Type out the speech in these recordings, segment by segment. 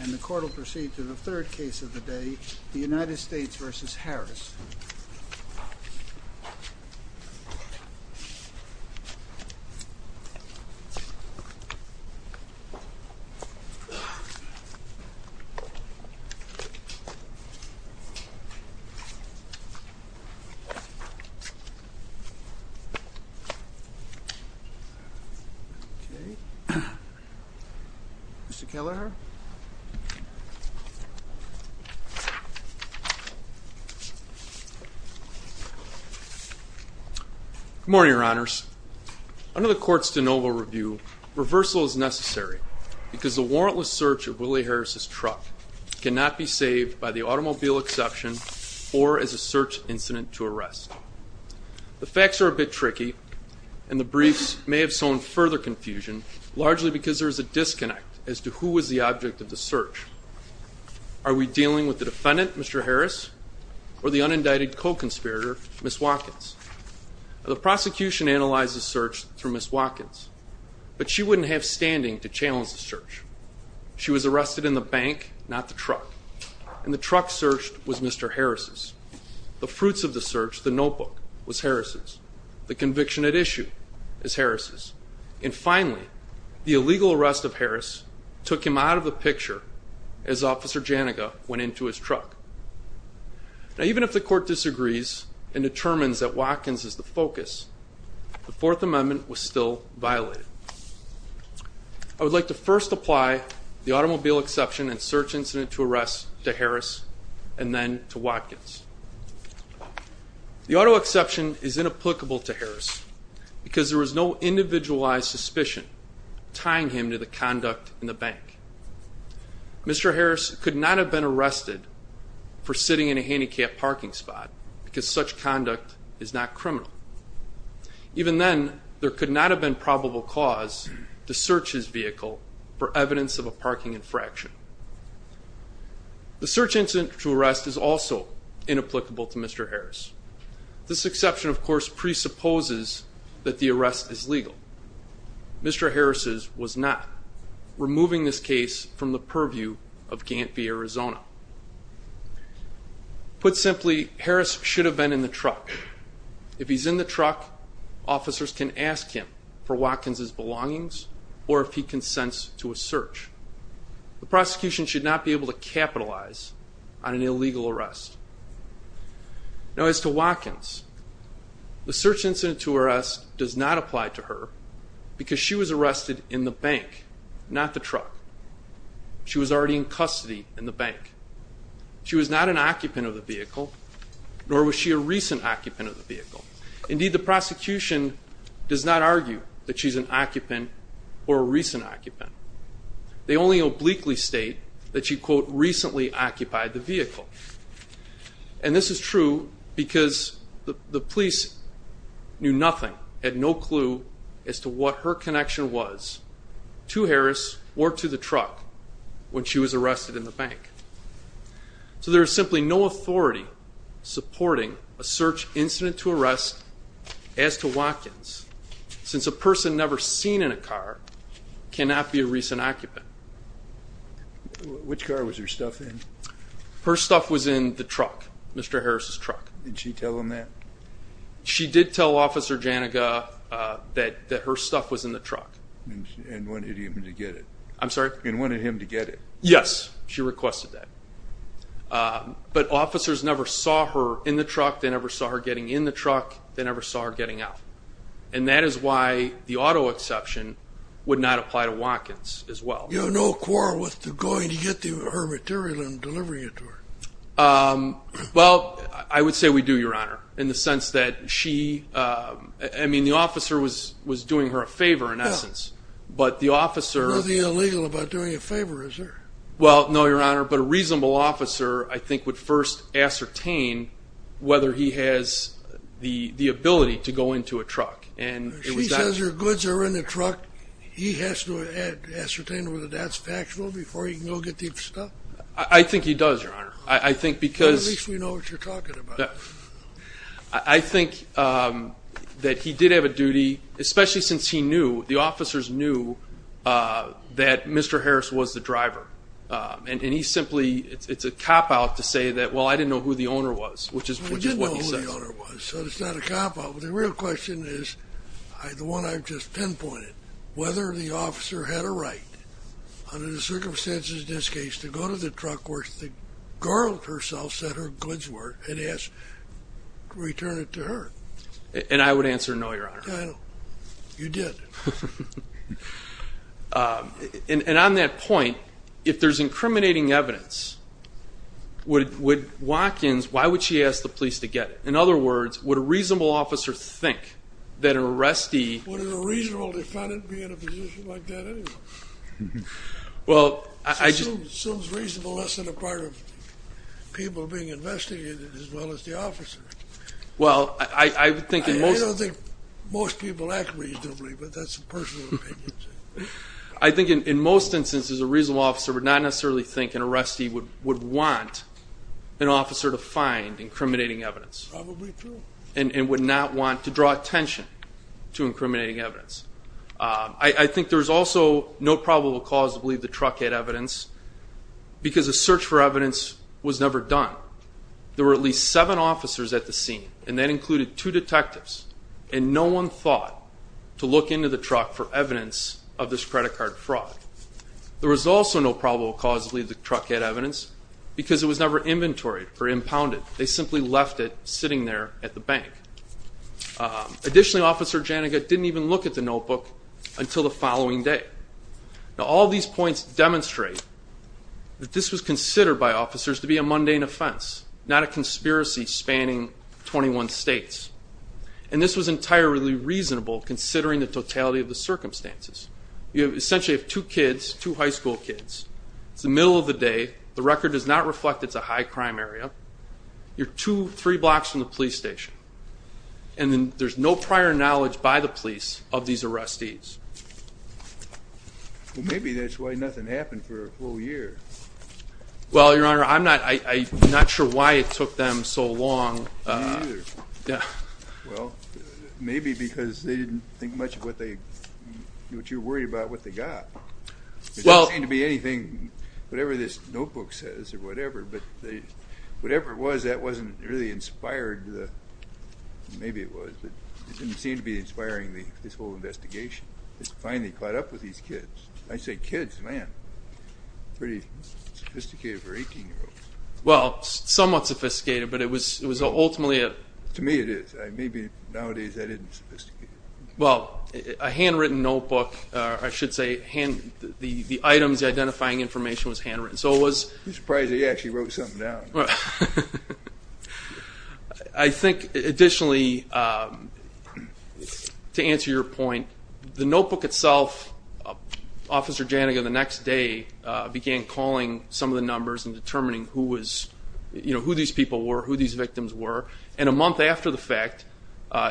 And the court will proceed to the third case of the day, the United States v. Harris. Okay. Mr. Kelleher. Good morning, your honors. Under the court's de novo review, reversal is necessary because the warrantless search of Willie Harris' truck cannot be saved by the automobile exception or as a search incident to arrest. The facts are a bit tricky, and the briefs may have sown further confusion, largely because there is a disconnect as to who was the object of the search. Are we dealing with the defendant, Mr. Harris, or the unindicted co-conspirator, Ms. Watkins? The prosecution analyzed the search through Ms. Watkins, but she wouldn't have standing to challenge the search. She was arrested in the bank, not the truck, and the truck searched was Mr. Harris'. The fruits of the search, the notebook, was Harris'. The conviction at issue is Harris'. And finally, the illegal arrest of Harris' took him out of the picture as Officer Janaga went into his truck. Now, even if the court disagrees and determines that Watkins is the focus, the Fourth Amendment was still violated. I would like to first apply the automobile exception and search incident to arrest to Harris and then to Watkins. The auto exception is inapplicable to Harris because there was no individualized suspicion tying him to the conduct in the bank. Mr. Harris could not have been arrested for sitting in a handicapped parking spot because such conduct is not criminal. Even then, there could not have been probable cause to search his vehicle for evidence of a parking infraction. The search incident to arrest is also inapplicable to Mr. Harris. This exception, of course, presupposes that the arrest is legal. Mr. Harris' was not, removing this case from the purview of Gantt v. Arizona. Put simply, Harris should have been in the truck. If he's in the truck, officers can ask him for Watkins' belongings or if he consents to a search. The prosecution should not be able to capitalize on an illegal arrest. Now, as to Watkins, the search incident to arrest does not apply to her because she was arrested in the bank, not the truck. She was already in custody in the bank. She was not an occupant of the vehicle, nor was she a recent occupant of the vehicle. Indeed, the prosecution does not argue that she's an occupant or a recent occupant. They only obliquely state that she, quote, recently occupied the vehicle. And this is true because the police knew nothing and no clue as to what her connection was to Harris or to the truck when she was arrested in the bank. So there is simply no authority supporting a search incident to arrest as to Watkins, since a person never seen in a car cannot be a recent occupant. Which car was her stuff in? Her stuff was in the truck, Mr. Harris' truck. Did she tell him that? She did tell Officer Janaga that her stuff was in the truck. And wanted him to get it. I'm sorry? And wanted him to get it. Yes, she requested that. But officers never saw her in the truck. They never saw her getting in the truck. They never saw her getting out. And that is why the auto exception would not apply to Watkins as well. You have no quarrel with going to get her material and delivering it to her? Well, I would say we do, Your Honor, in the sense that she, I mean, the officer was doing her a favor in essence. Nothing illegal about doing a favor, is there? Well, no, Your Honor. But a reasonable officer, I think, would first ascertain whether he has the ability to go into a truck. She says her goods are in the truck. He has to ascertain whether that's factual before he can go get the stuff? I think he does, Your Honor. At least we know what you're talking about. I think that he did have a duty, especially since he knew, the officers knew, that Mr. Harris was the driver. And he simply, it's a cop-out to say that, well, I didn't know who the owner was, which is what he says. I did know who the owner was, so it's not a cop-out. But the real question is, the one I've just pinpointed, whether the officer had a right, under the circumstances in this case, to go to the truck where the girl herself said her goods were, and return it to her. And I would answer no, Your Honor. You did. And on that point, if there's incriminating evidence, would Watkins, why would she ask the police to get it? In other words, would a reasonable officer think that an arrestee Would a reasonable defendant be in a position like that anyway? Well, I just It seems reasonable, less than a part of people being investigated, as well as the officer. Well, I think in most I don't think most people act reasonably, but that's a personal opinion. I think in most instances, a reasonable officer would not necessarily think an arrestee would want an officer to find incriminating evidence. Probably true. And would not want to draw attention to incriminating evidence. I think there's also no probable cause to believe the truck had evidence, because a search for evidence was never done. There were at least seven officers at the scene, and that included two detectives. And no one thought to look into the truck for evidence of this credit card fraud. There was also no probable cause to believe the truck had evidence, because it was never inventoried or impounded. They simply left it sitting there at the bank. Additionally, Officer Janega didn't even look at the notebook until the following day. Now, all these points demonstrate that this was considered by officers to be a mundane offense, not a conspiracy spanning 21 states. And this was entirely reasonable, considering the totality of the circumstances. You essentially have two kids, two high school kids. It's the middle of the day. The record does not reflect it's a high crime area. You're two, three blocks from the police station. And there's no prior knowledge by the police of these arrestees. Well, maybe that's why nothing happened for a full year. Well, Your Honor, I'm not sure why it took them so long. Me either. Yeah. Well, maybe because they didn't think much of what you're worried about, what they got. There doesn't seem to be anything, whatever this notebook says or whatever, but whatever it was, that wasn't really inspired. Maybe it was, but it didn't seem to be inspiring, this whole investigation. It's finally caught up with these kids. I say kids, man, pretty sophisticated for 18-year-olds. Well, somewhat sophisticated, but it was ultimately a... To me it is. Maybe nowadays that isn't sophisticated. Well, a handwritten notebook, I should say, the items, the identifying information was handwritten. I'm surprised he actually wrote something down. I think additionally, to answer your point, the notebook itself, Officer Jannigan the next day began calling some of the numbers and determining who these people were, who these victims were. And a month after the fact,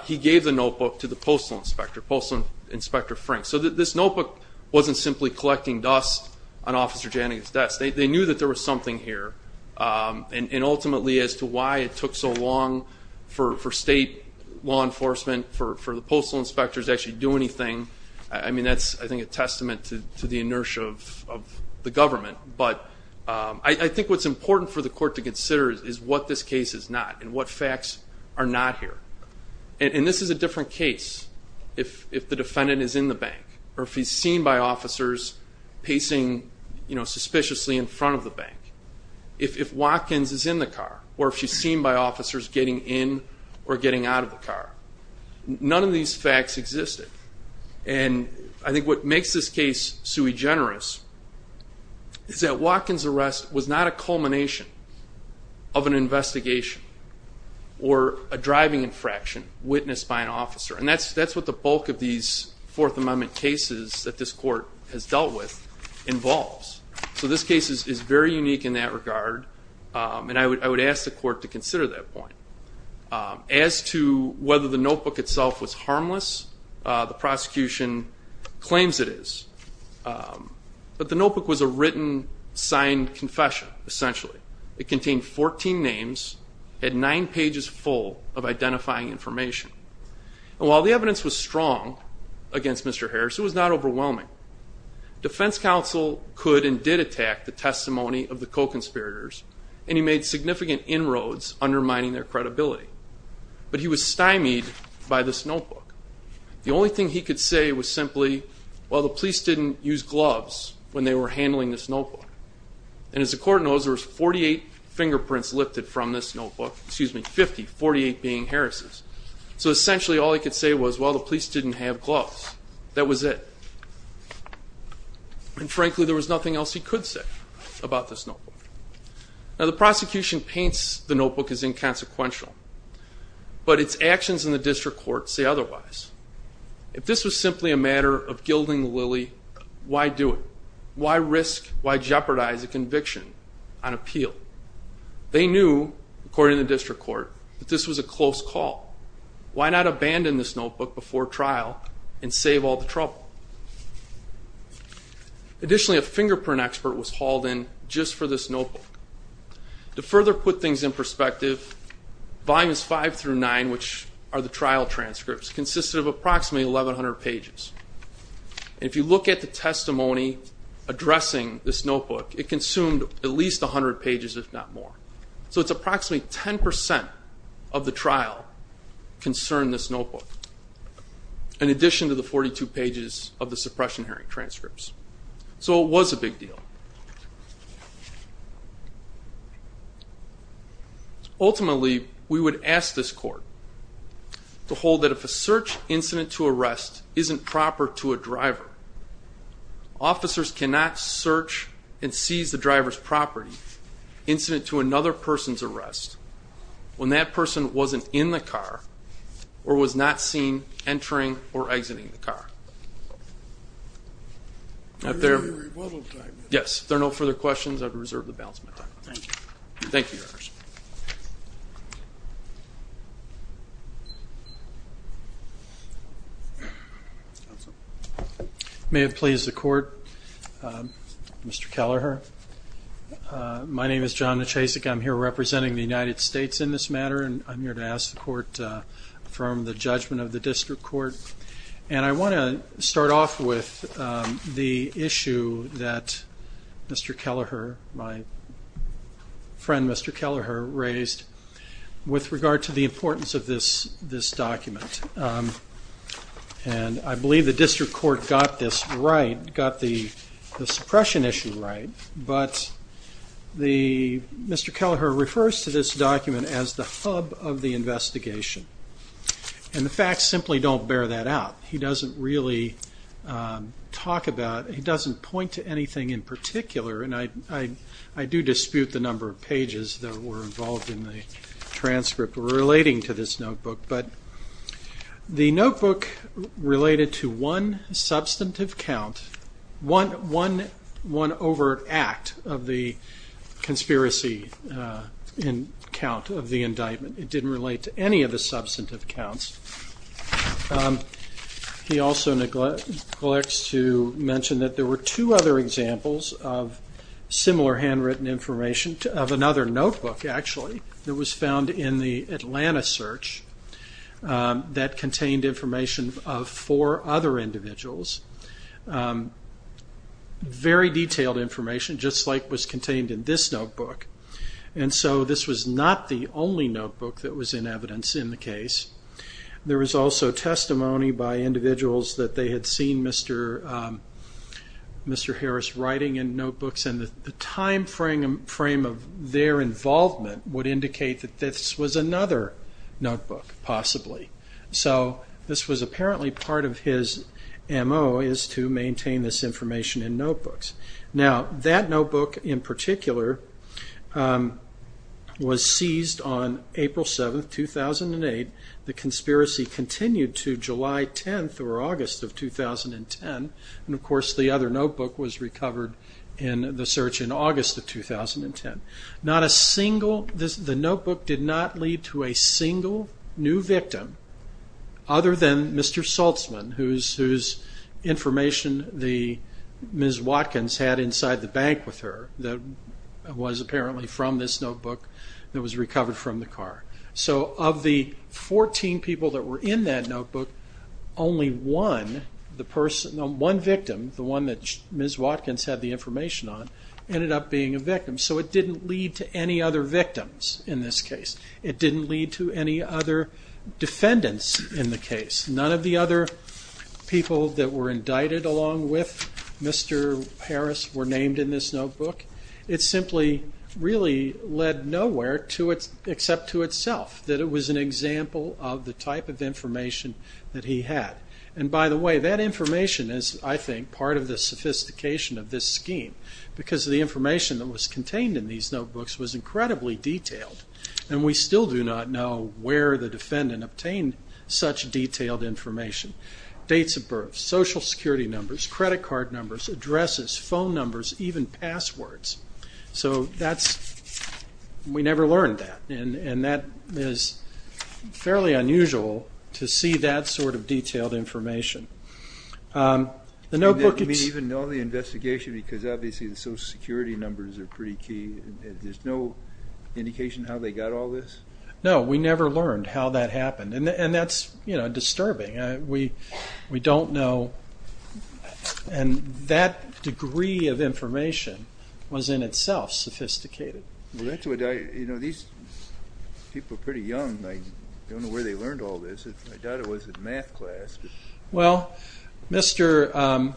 he gave the notebook to the postal inspector, Postal Inspector Frank. So this notebook wasn't simply collecting dust on Officer Jannigan's desk. They knew that there was something here. And ultimately, as to why it took so long for state law enforcement, for the postal inspectors to actually do anything, I mean, that's, I think, a testament to the inertia of the government. But I think what's important for the court to consider is what this case is not and what facts are not here. And this is a different case if the defendant is in the bank or if he's seen by officers pacing suspiciously in front of the bank. If Watkins is in the car or if she's seen by officers getting in or getting out of the car. None of these facts existed. And I think what makes this case sui generis is that Watkins' arrest was not a culmination of an investigation or a driving infraction witnessed by an officer. And that's what the bulk of these Fourth Amendment cases that this court has dealt with involves. So this case is very unique in that regard, and I would ask the court to consider that point. As to whether the notebook itself was harmless, the prosecution claims it is. But the notebook was a written, signed confession, essentially. It contained 14 names, had nine pages full of identifying information. And while the evidence was strong against Mr. Harris, it was not overwhelming. Defense counsel could and did attack the testimony of the co-conspirators, and he made significant inroads undermining their credibility. But he was stymied by this notebook. The only thing he could say was simply, well, the police didn't use gloves when they were handling this notebook. And as the court knows, there was 48 fingerprints lifted from this notebook. Excuse me, 50, 48 being Harris'. So essentially all he could say was, well, the police didn't have gloves. That was it. And frankly, there was nothing else he could say about this notebook. Now, the prosecution paints the notebook as inconsequential, but its actions in the district court say otherwise. If this was simply a matter of gilding the lily, why do it? Why risk, why jeopardize a conviction on appeal? They knew, according to the district court, that this was a close call. Why not abandon this notebook before trial and save all the trouble? Additionally, a fingerprint expert was hauled in just for this notebook. To further put things in perspective, volumes 5 through 9, which are the trial transcripts, consisted of approximately 1,100 pages. And if you look at the testimony addressing this notebook, it consumed at least 100 pages, if not more. So it's approximately 10% of the trial concerned this notebook, in addition to the 42 pages of the suppression hearing transcripts. So it was a big deal. Ultimately, we would ask this court to hold that if a search incident to arrest isn't proper to a driver, officers cannot search and seize the driver's property incident to another person's arrest when that person wasn't in the car or was not seen entering or exiting the car. If there are no further questions, I would reserve the balance of my time. Thank you. May it please the court, Mr. Kelleher, my name is John Nachesik. I'm here representing the United States in this matter, and I'm here to ask the court to affirm the judgment of the district court. And I want to start off with the issue that Mr. Kelleher, my friend, Mr. Kelleher, raised with regard to the importance of this document. And I believe the district court got this right, but Mr. Kelleher refers to this document as the hub of the investigation. And the facts simply don't bear that out. He doesn't really talk about, he doesn't point to anything in particular, and I do dispute the number of pages that were involved in the transcript relating to this notebook, but the notebook related to one substantive count, one overt act of the conspiracy count of the indictment. It didn't relate to any of the substantive counts. He also neglects to mention that there were two other examples of similar handwritten information of another notebook, actually, that was found in the Atlanta search that contained information of four other individuals. Very detailed information, just like was contained in this notebook. And so this was not the only notebook that was in evidence in the case. There was also testimony by individuals that they had seen Mr. Harris writing in notebooks, and the time frame of their involvement would indicate that this was another notebook, possibly. So this was apparently part of his MO, is to maintain this information in notebooks. Now, that notebook in particular was seized on April 7th, 2008. The conspiracy continued to July 10th or August of 2010, and of course the other notebook was recovered in the search in August of 2010. The notebook did not lead to a single new victim other than Mr. Saltzman, whose information Ms. Watkins had inside the bank with her, that was apparently from this notebook that was recovered from the car. So of the 14 people that were in that notebook, only one victim, the one that Ms. Watkins had the information on, ended up being a victim. So it didn't lead to any other victims in this case. It didn't lead to any other defendants in the case. None of the other people that were indicted along with Mr. Harris were named in this notebook. It simply really led nowhere except to itself, that it was an example of the type of information that he had. And by the way, that information is, I think, part of the sophistication of this scheme, because the information that was contained in these notebooks was incredibly detailed, and we still do not know where the defendant obtained such detailed information. Dates of birth, social security numbers, credit card numbers, addresses, phone numbers, even passwords. So we never learned that, and that is fairly unusual to see that sort of detailed information. The notebook... I mean, even though the investigation, because obviously the social security numbers are pretty key, there's no indication how they got all this? No, we never learned how that happened, and that's disturbing. We don't know. And that degree of information was in itself sophisticated. Well, that's what I... You know, these people are pretty young. I don't know where they learned all this. I doubt it was in math class. Well, Mr.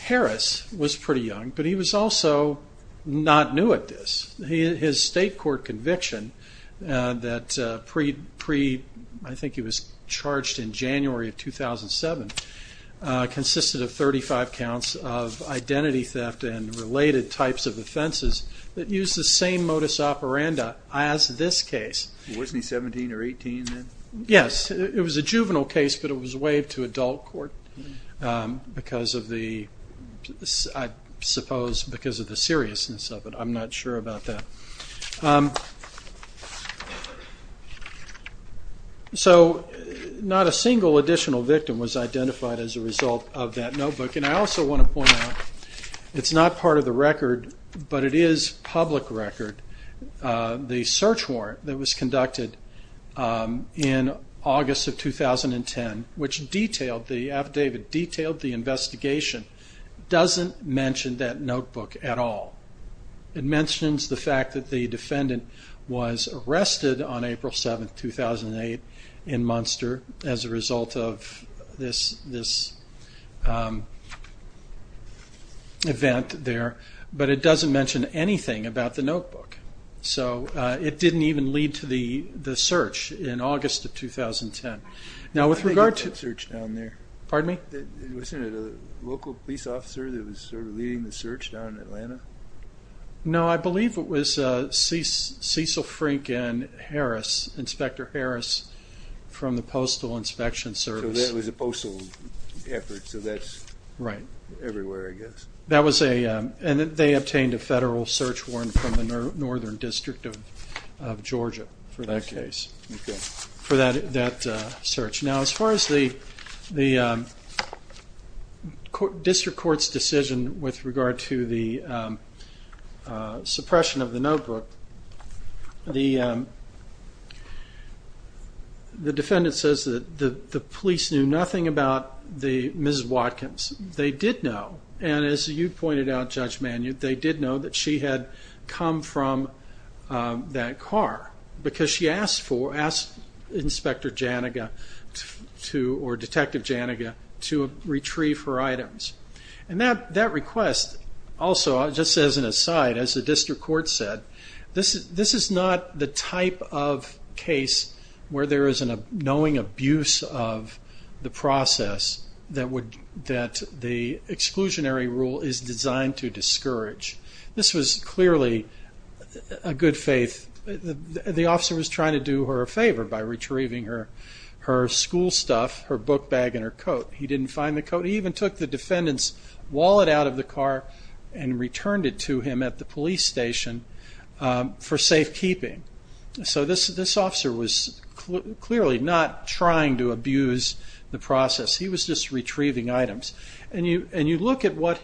Harris was pretty young, but he was also not new at this. His state court conviction that pre... I think he was charged in January of 2007 consisted of 35 counts of identity theft and related types of offenses that used the same modus operandi as this case. Wasn't he 17 or 18 then? Yes. It was a juvenile case, but it was waived to adult court because of the... I suppose because of the seriousness of it. I'm not sure about that. So not a single additional victim was identified as a result of that notebook, and I also want to point out it's not part of the record, but it is public record. The search warrant that was conducted in August of 2010, which detailed the investigation, doesn't mention that notebook at all. It mentions the fact that the defendant was arrested on April 7, 2008, in Munster as a result of this event there, but it doesn't mention anything about the notebook. So it didn't even lead to the search in August of 2010. Now with regard to... I think it was a search down there. Pardon me? Wasn't it a local police officer that was sort of leading the search down in Atlanta? No, I believe it was Cecil Frank and Harris, Inspector Harris from the Postal Inspection Service. So that was a postal effort, so that's everywhere, I guess. And they obtained a federal search warrant from the Northern District of Georgia for that case, for that search. Now as far as the district court's decision with regard to the suppression of the notebook, the defendant says that the police knew nothing about Ms. Watkins. They did know, and as you pointed out, Judge Manu, they did know that she had come from that car because she asked Inspector Jannega, or Detective Jannega, to retrieve her items. And that request also, just as an aside, as the district court said, this is not the type of case where there is a knowing abuse of the process that the exclusionary rule is designed to discourage. This was clearly a good faith. The officer was trying to do her a favor by retrieving her school stuff, her book bag and her coat. He didn't find the coat. He even took the defendant's wallet out of the car and returned it to him at the police station for safekeeping. So this officer was clearly not trying to abuse the process. He was just retrieving items. And you look at what,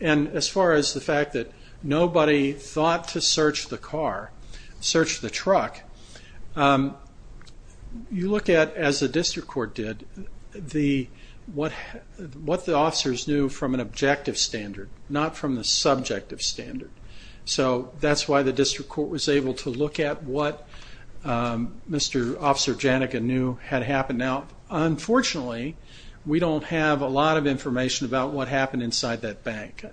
and as far as the fact that nobody thought to search the car, search the truck, you look at, as the district court did, what the officers knew from an objective standard, not from the subjective standard. So that's why the district court was able to look at what Mr. Officer Jannega knew had happened. Now, unfortunately, we don't have a lot of information about what happened inside that bank,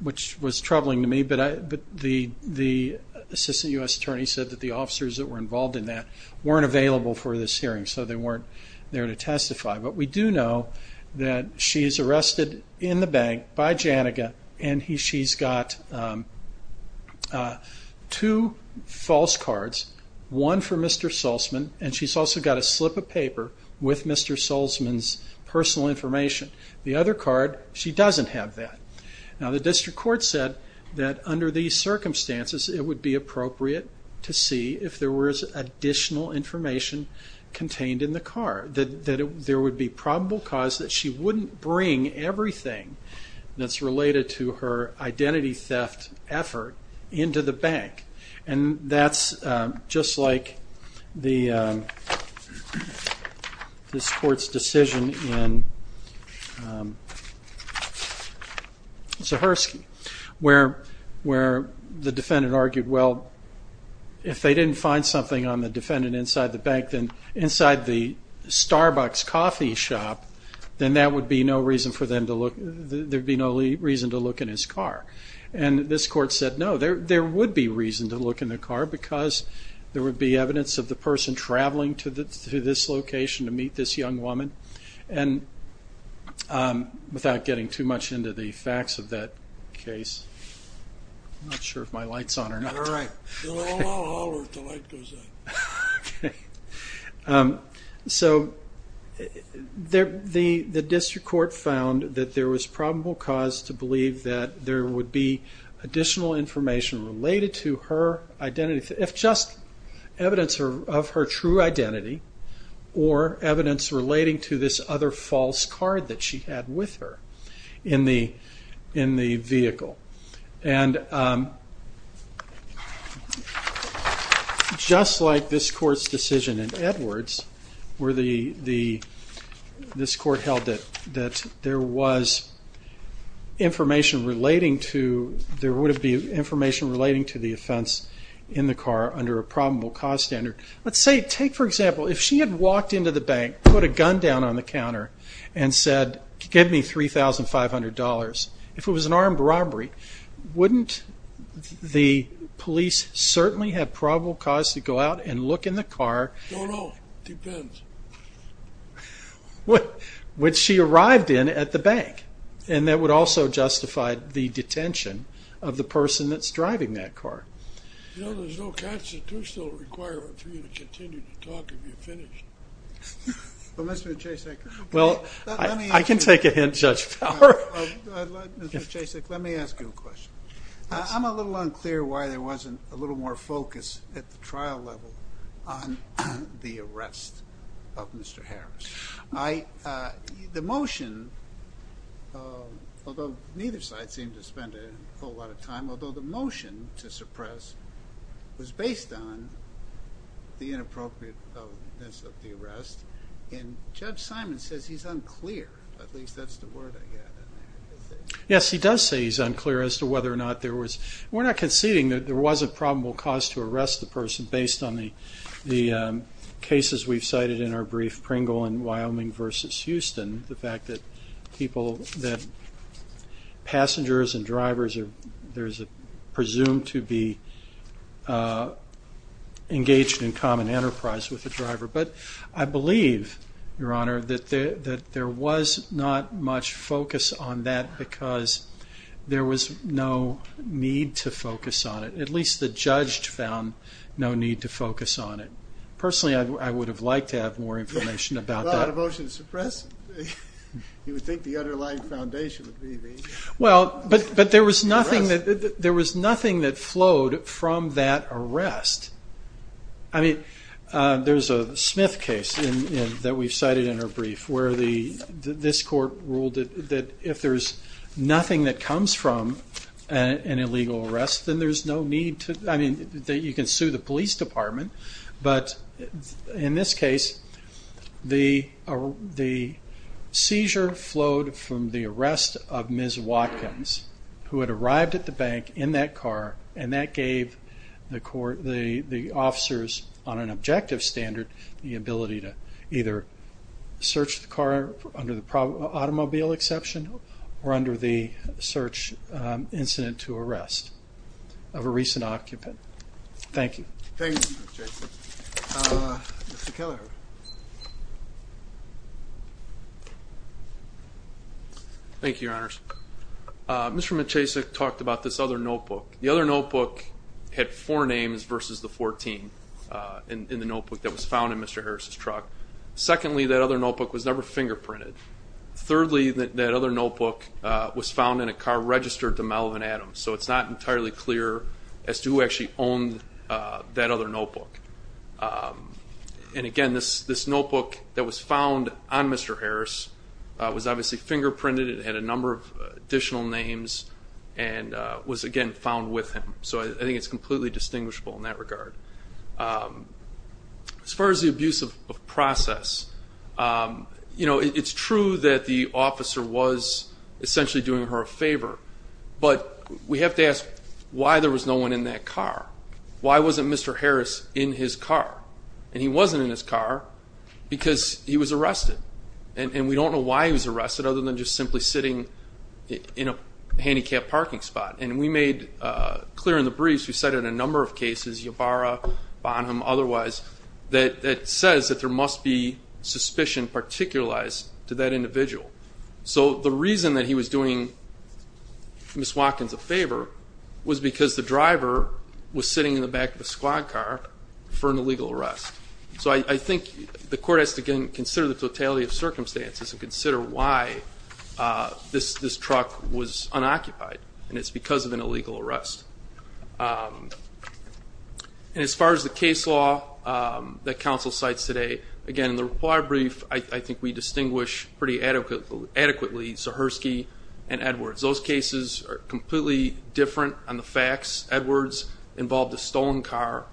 which was troubling to me. But the Assistant U.S. Attorney said that the officers that were involved in that weren't available for this hearing, so they weren't there to testify. But we do know that she is arrested in the bank by Jannega, and she's got two false cards, one for Mr. Sulzman, and she's also got a slip of paper with Mr. Sulzman's personal information. The other card, she doesn't have that. Now, the district court said that under these circumstances, it would be appropriate to see if there was additional information contained in the car, that there would be probable cause that she wouldn't bring everything that's related to her identity theft effort into the bank. And that's just like this court's decision in Zahersky, where the defendant argued, well, if they didn't find something on the defendant inside the Starbucks coffee shop, then there would be no reason to look in his car. And this court said, no, there would be reason to look in the car because there would be evidence of the person traveling to this location to meet this young woman. And without getting too much into the facts of that case, I'm not sure if my light's on or not. All right. I'll holler if the light goes on. Okay. So the district court found that there was probable cause to believe that there would be additional information related to her identity, if just evidence of her true identity or evidence relating to this other false card that she had with her in the vehicle. And just like this court's decision in Edwards, where this court held that there was information relating to, there would be information relating to the offense in the car under a probable cause standard. Let's say, take for example, if she had walked into the bank, put a gun down on the counter and said, give me $3,500. If it was an armed robbery, wouldn't the police certainly have probable cause to go out and look in the car? No, no. Depends. Which she arrived in at the bank. And that would also justify the detention of the person that's driving that car. You know, there's no constitutional requirement for you to continue to talk if you're finished. Well, Mr. Jasek. Well, I can take a hint, Judge Fowler. Mr. Jasek, let me ask you a question. I'm a little unclear why there wasn't a little more focus at the trial level on the arrest of Mr. Harris. The motion, although neither side seemed to spend a whole lot of time, although the motion to suppress was based on the inappropriateness of the arrest, and Judge Simon says he's unclear. At least that's the word I get. Yes, he does say he's unclear as to whether or not there was, we're not conceding that there was a probable cause to arrest the person based on the cases we've cited in our brief, Pringle and Wyoming versus Houston, the fact that passengers and drivers are presumed to be engaged in common enterprise with the driver. But I believe, Your Honor, that there was not much focus on that because there was no need to focus on it. At least the judge found no need to focus on it. Personally, I would have liked to have more information about that. Without a motion to suppress, you would think the underlying foundation would be the arrest. Well, but there was nothing that flowed from that arrest. I mean, there's a Smith case that we've cited in our brief where this court ruled that if there's nothing that comes from an illegal arrest, then there's no need to, I mean, you can sue the police department. But in this case, the seizure flowed from the arrest of Ms. Watkins, who had arrived at the bank in that car, and that gave the officers, on an objective standard, the ability to either search the car under the automobile exception or under the search incident to arrest of a recent occupant. Thank you. Thank you, Mr. Maciasek. Mr. Kelleher. Thank you, Your Honors. Mr. Maciasek talked about this other notebook. The other notebook had four names versus the 14 in the notebook that was found in Mr. Harris' truck. Secondly, that other notebook was never fingerprinted. Thirdly, that other notebook was found in a car registered to Melvin Adams, so it's not entirely clear as to who actually owned that other notebook. And again, this notebook that was found on Mr. Harris was obviously fingerprinted. It had a number of additional names and was, again, found with him. So I think it's completely distinguishable in that regard. As far as the abuse of process, it's true that the officer was essentially doing her a favor, but we have to ask why there was no one in that car. Why wasn't Mr. Harris in his car? And he wasn't in his car because he was arrested. And we don't know why he was arrested other than just simply sitting in a handicapped parking spot. And we made clear in the briefs, we cited a number of cases, Yabara, Bonham, otherwise, that says that there must be suspicion particularized to that individual. So the reason that he was doing Ms. Watkins a favor was because the driver was sitting in the back of a squad car for an illegal arrest. So I think the court has to, again, consider the totality of circumstances and consider why this truck was unoccupied, and it's because of an illegal arrest. And as far as the case law that counsel cites today, again, in the reply brief, I think we distinguish pretty adequately Zahersky and Edwards. Those cases are completely different on the facts. Edwards involved a stolen car.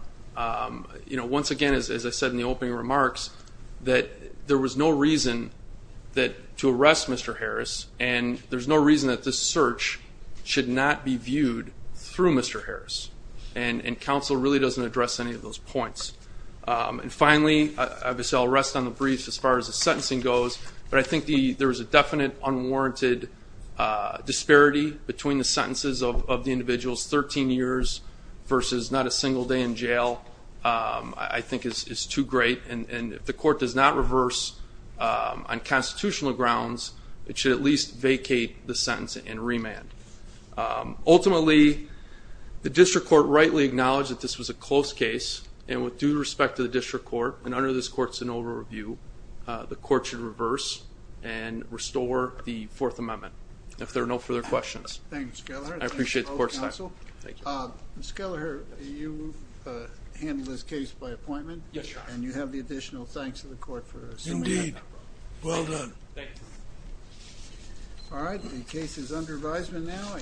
Once again, as I said in the opening remarks, that there was no reason to arrest Mr. Harris, and there's no reason that this search should not be viewed through Mr. Harris. And counsel really doesn't address any of those points. And finally, obviously I'll rest on the briefs as far as the sentencing goes, but I think there is a definite unwarranted disparity between the sentences of the individuals, 13 years versus not a single day in jail, I think is too great. And if the court does not reverse on constitutional grounds, it should at least vacate the sentence and remand. Ultimately, the district court rightly acknowledged that this was a close case, and with due respect to the district court, and under this court's overview, the court should reverse and restore the Fourth Amendment, if there are no further questions. Thank you, Mr. Kelleher. I appreciate the court's time. Mr. Kelleher, you handled this case by appointment. Yes, Your Honor. And you have the additional thanks of the court for assuming that. Indeed. Well done. Thank you. All right, the case is under advisement now.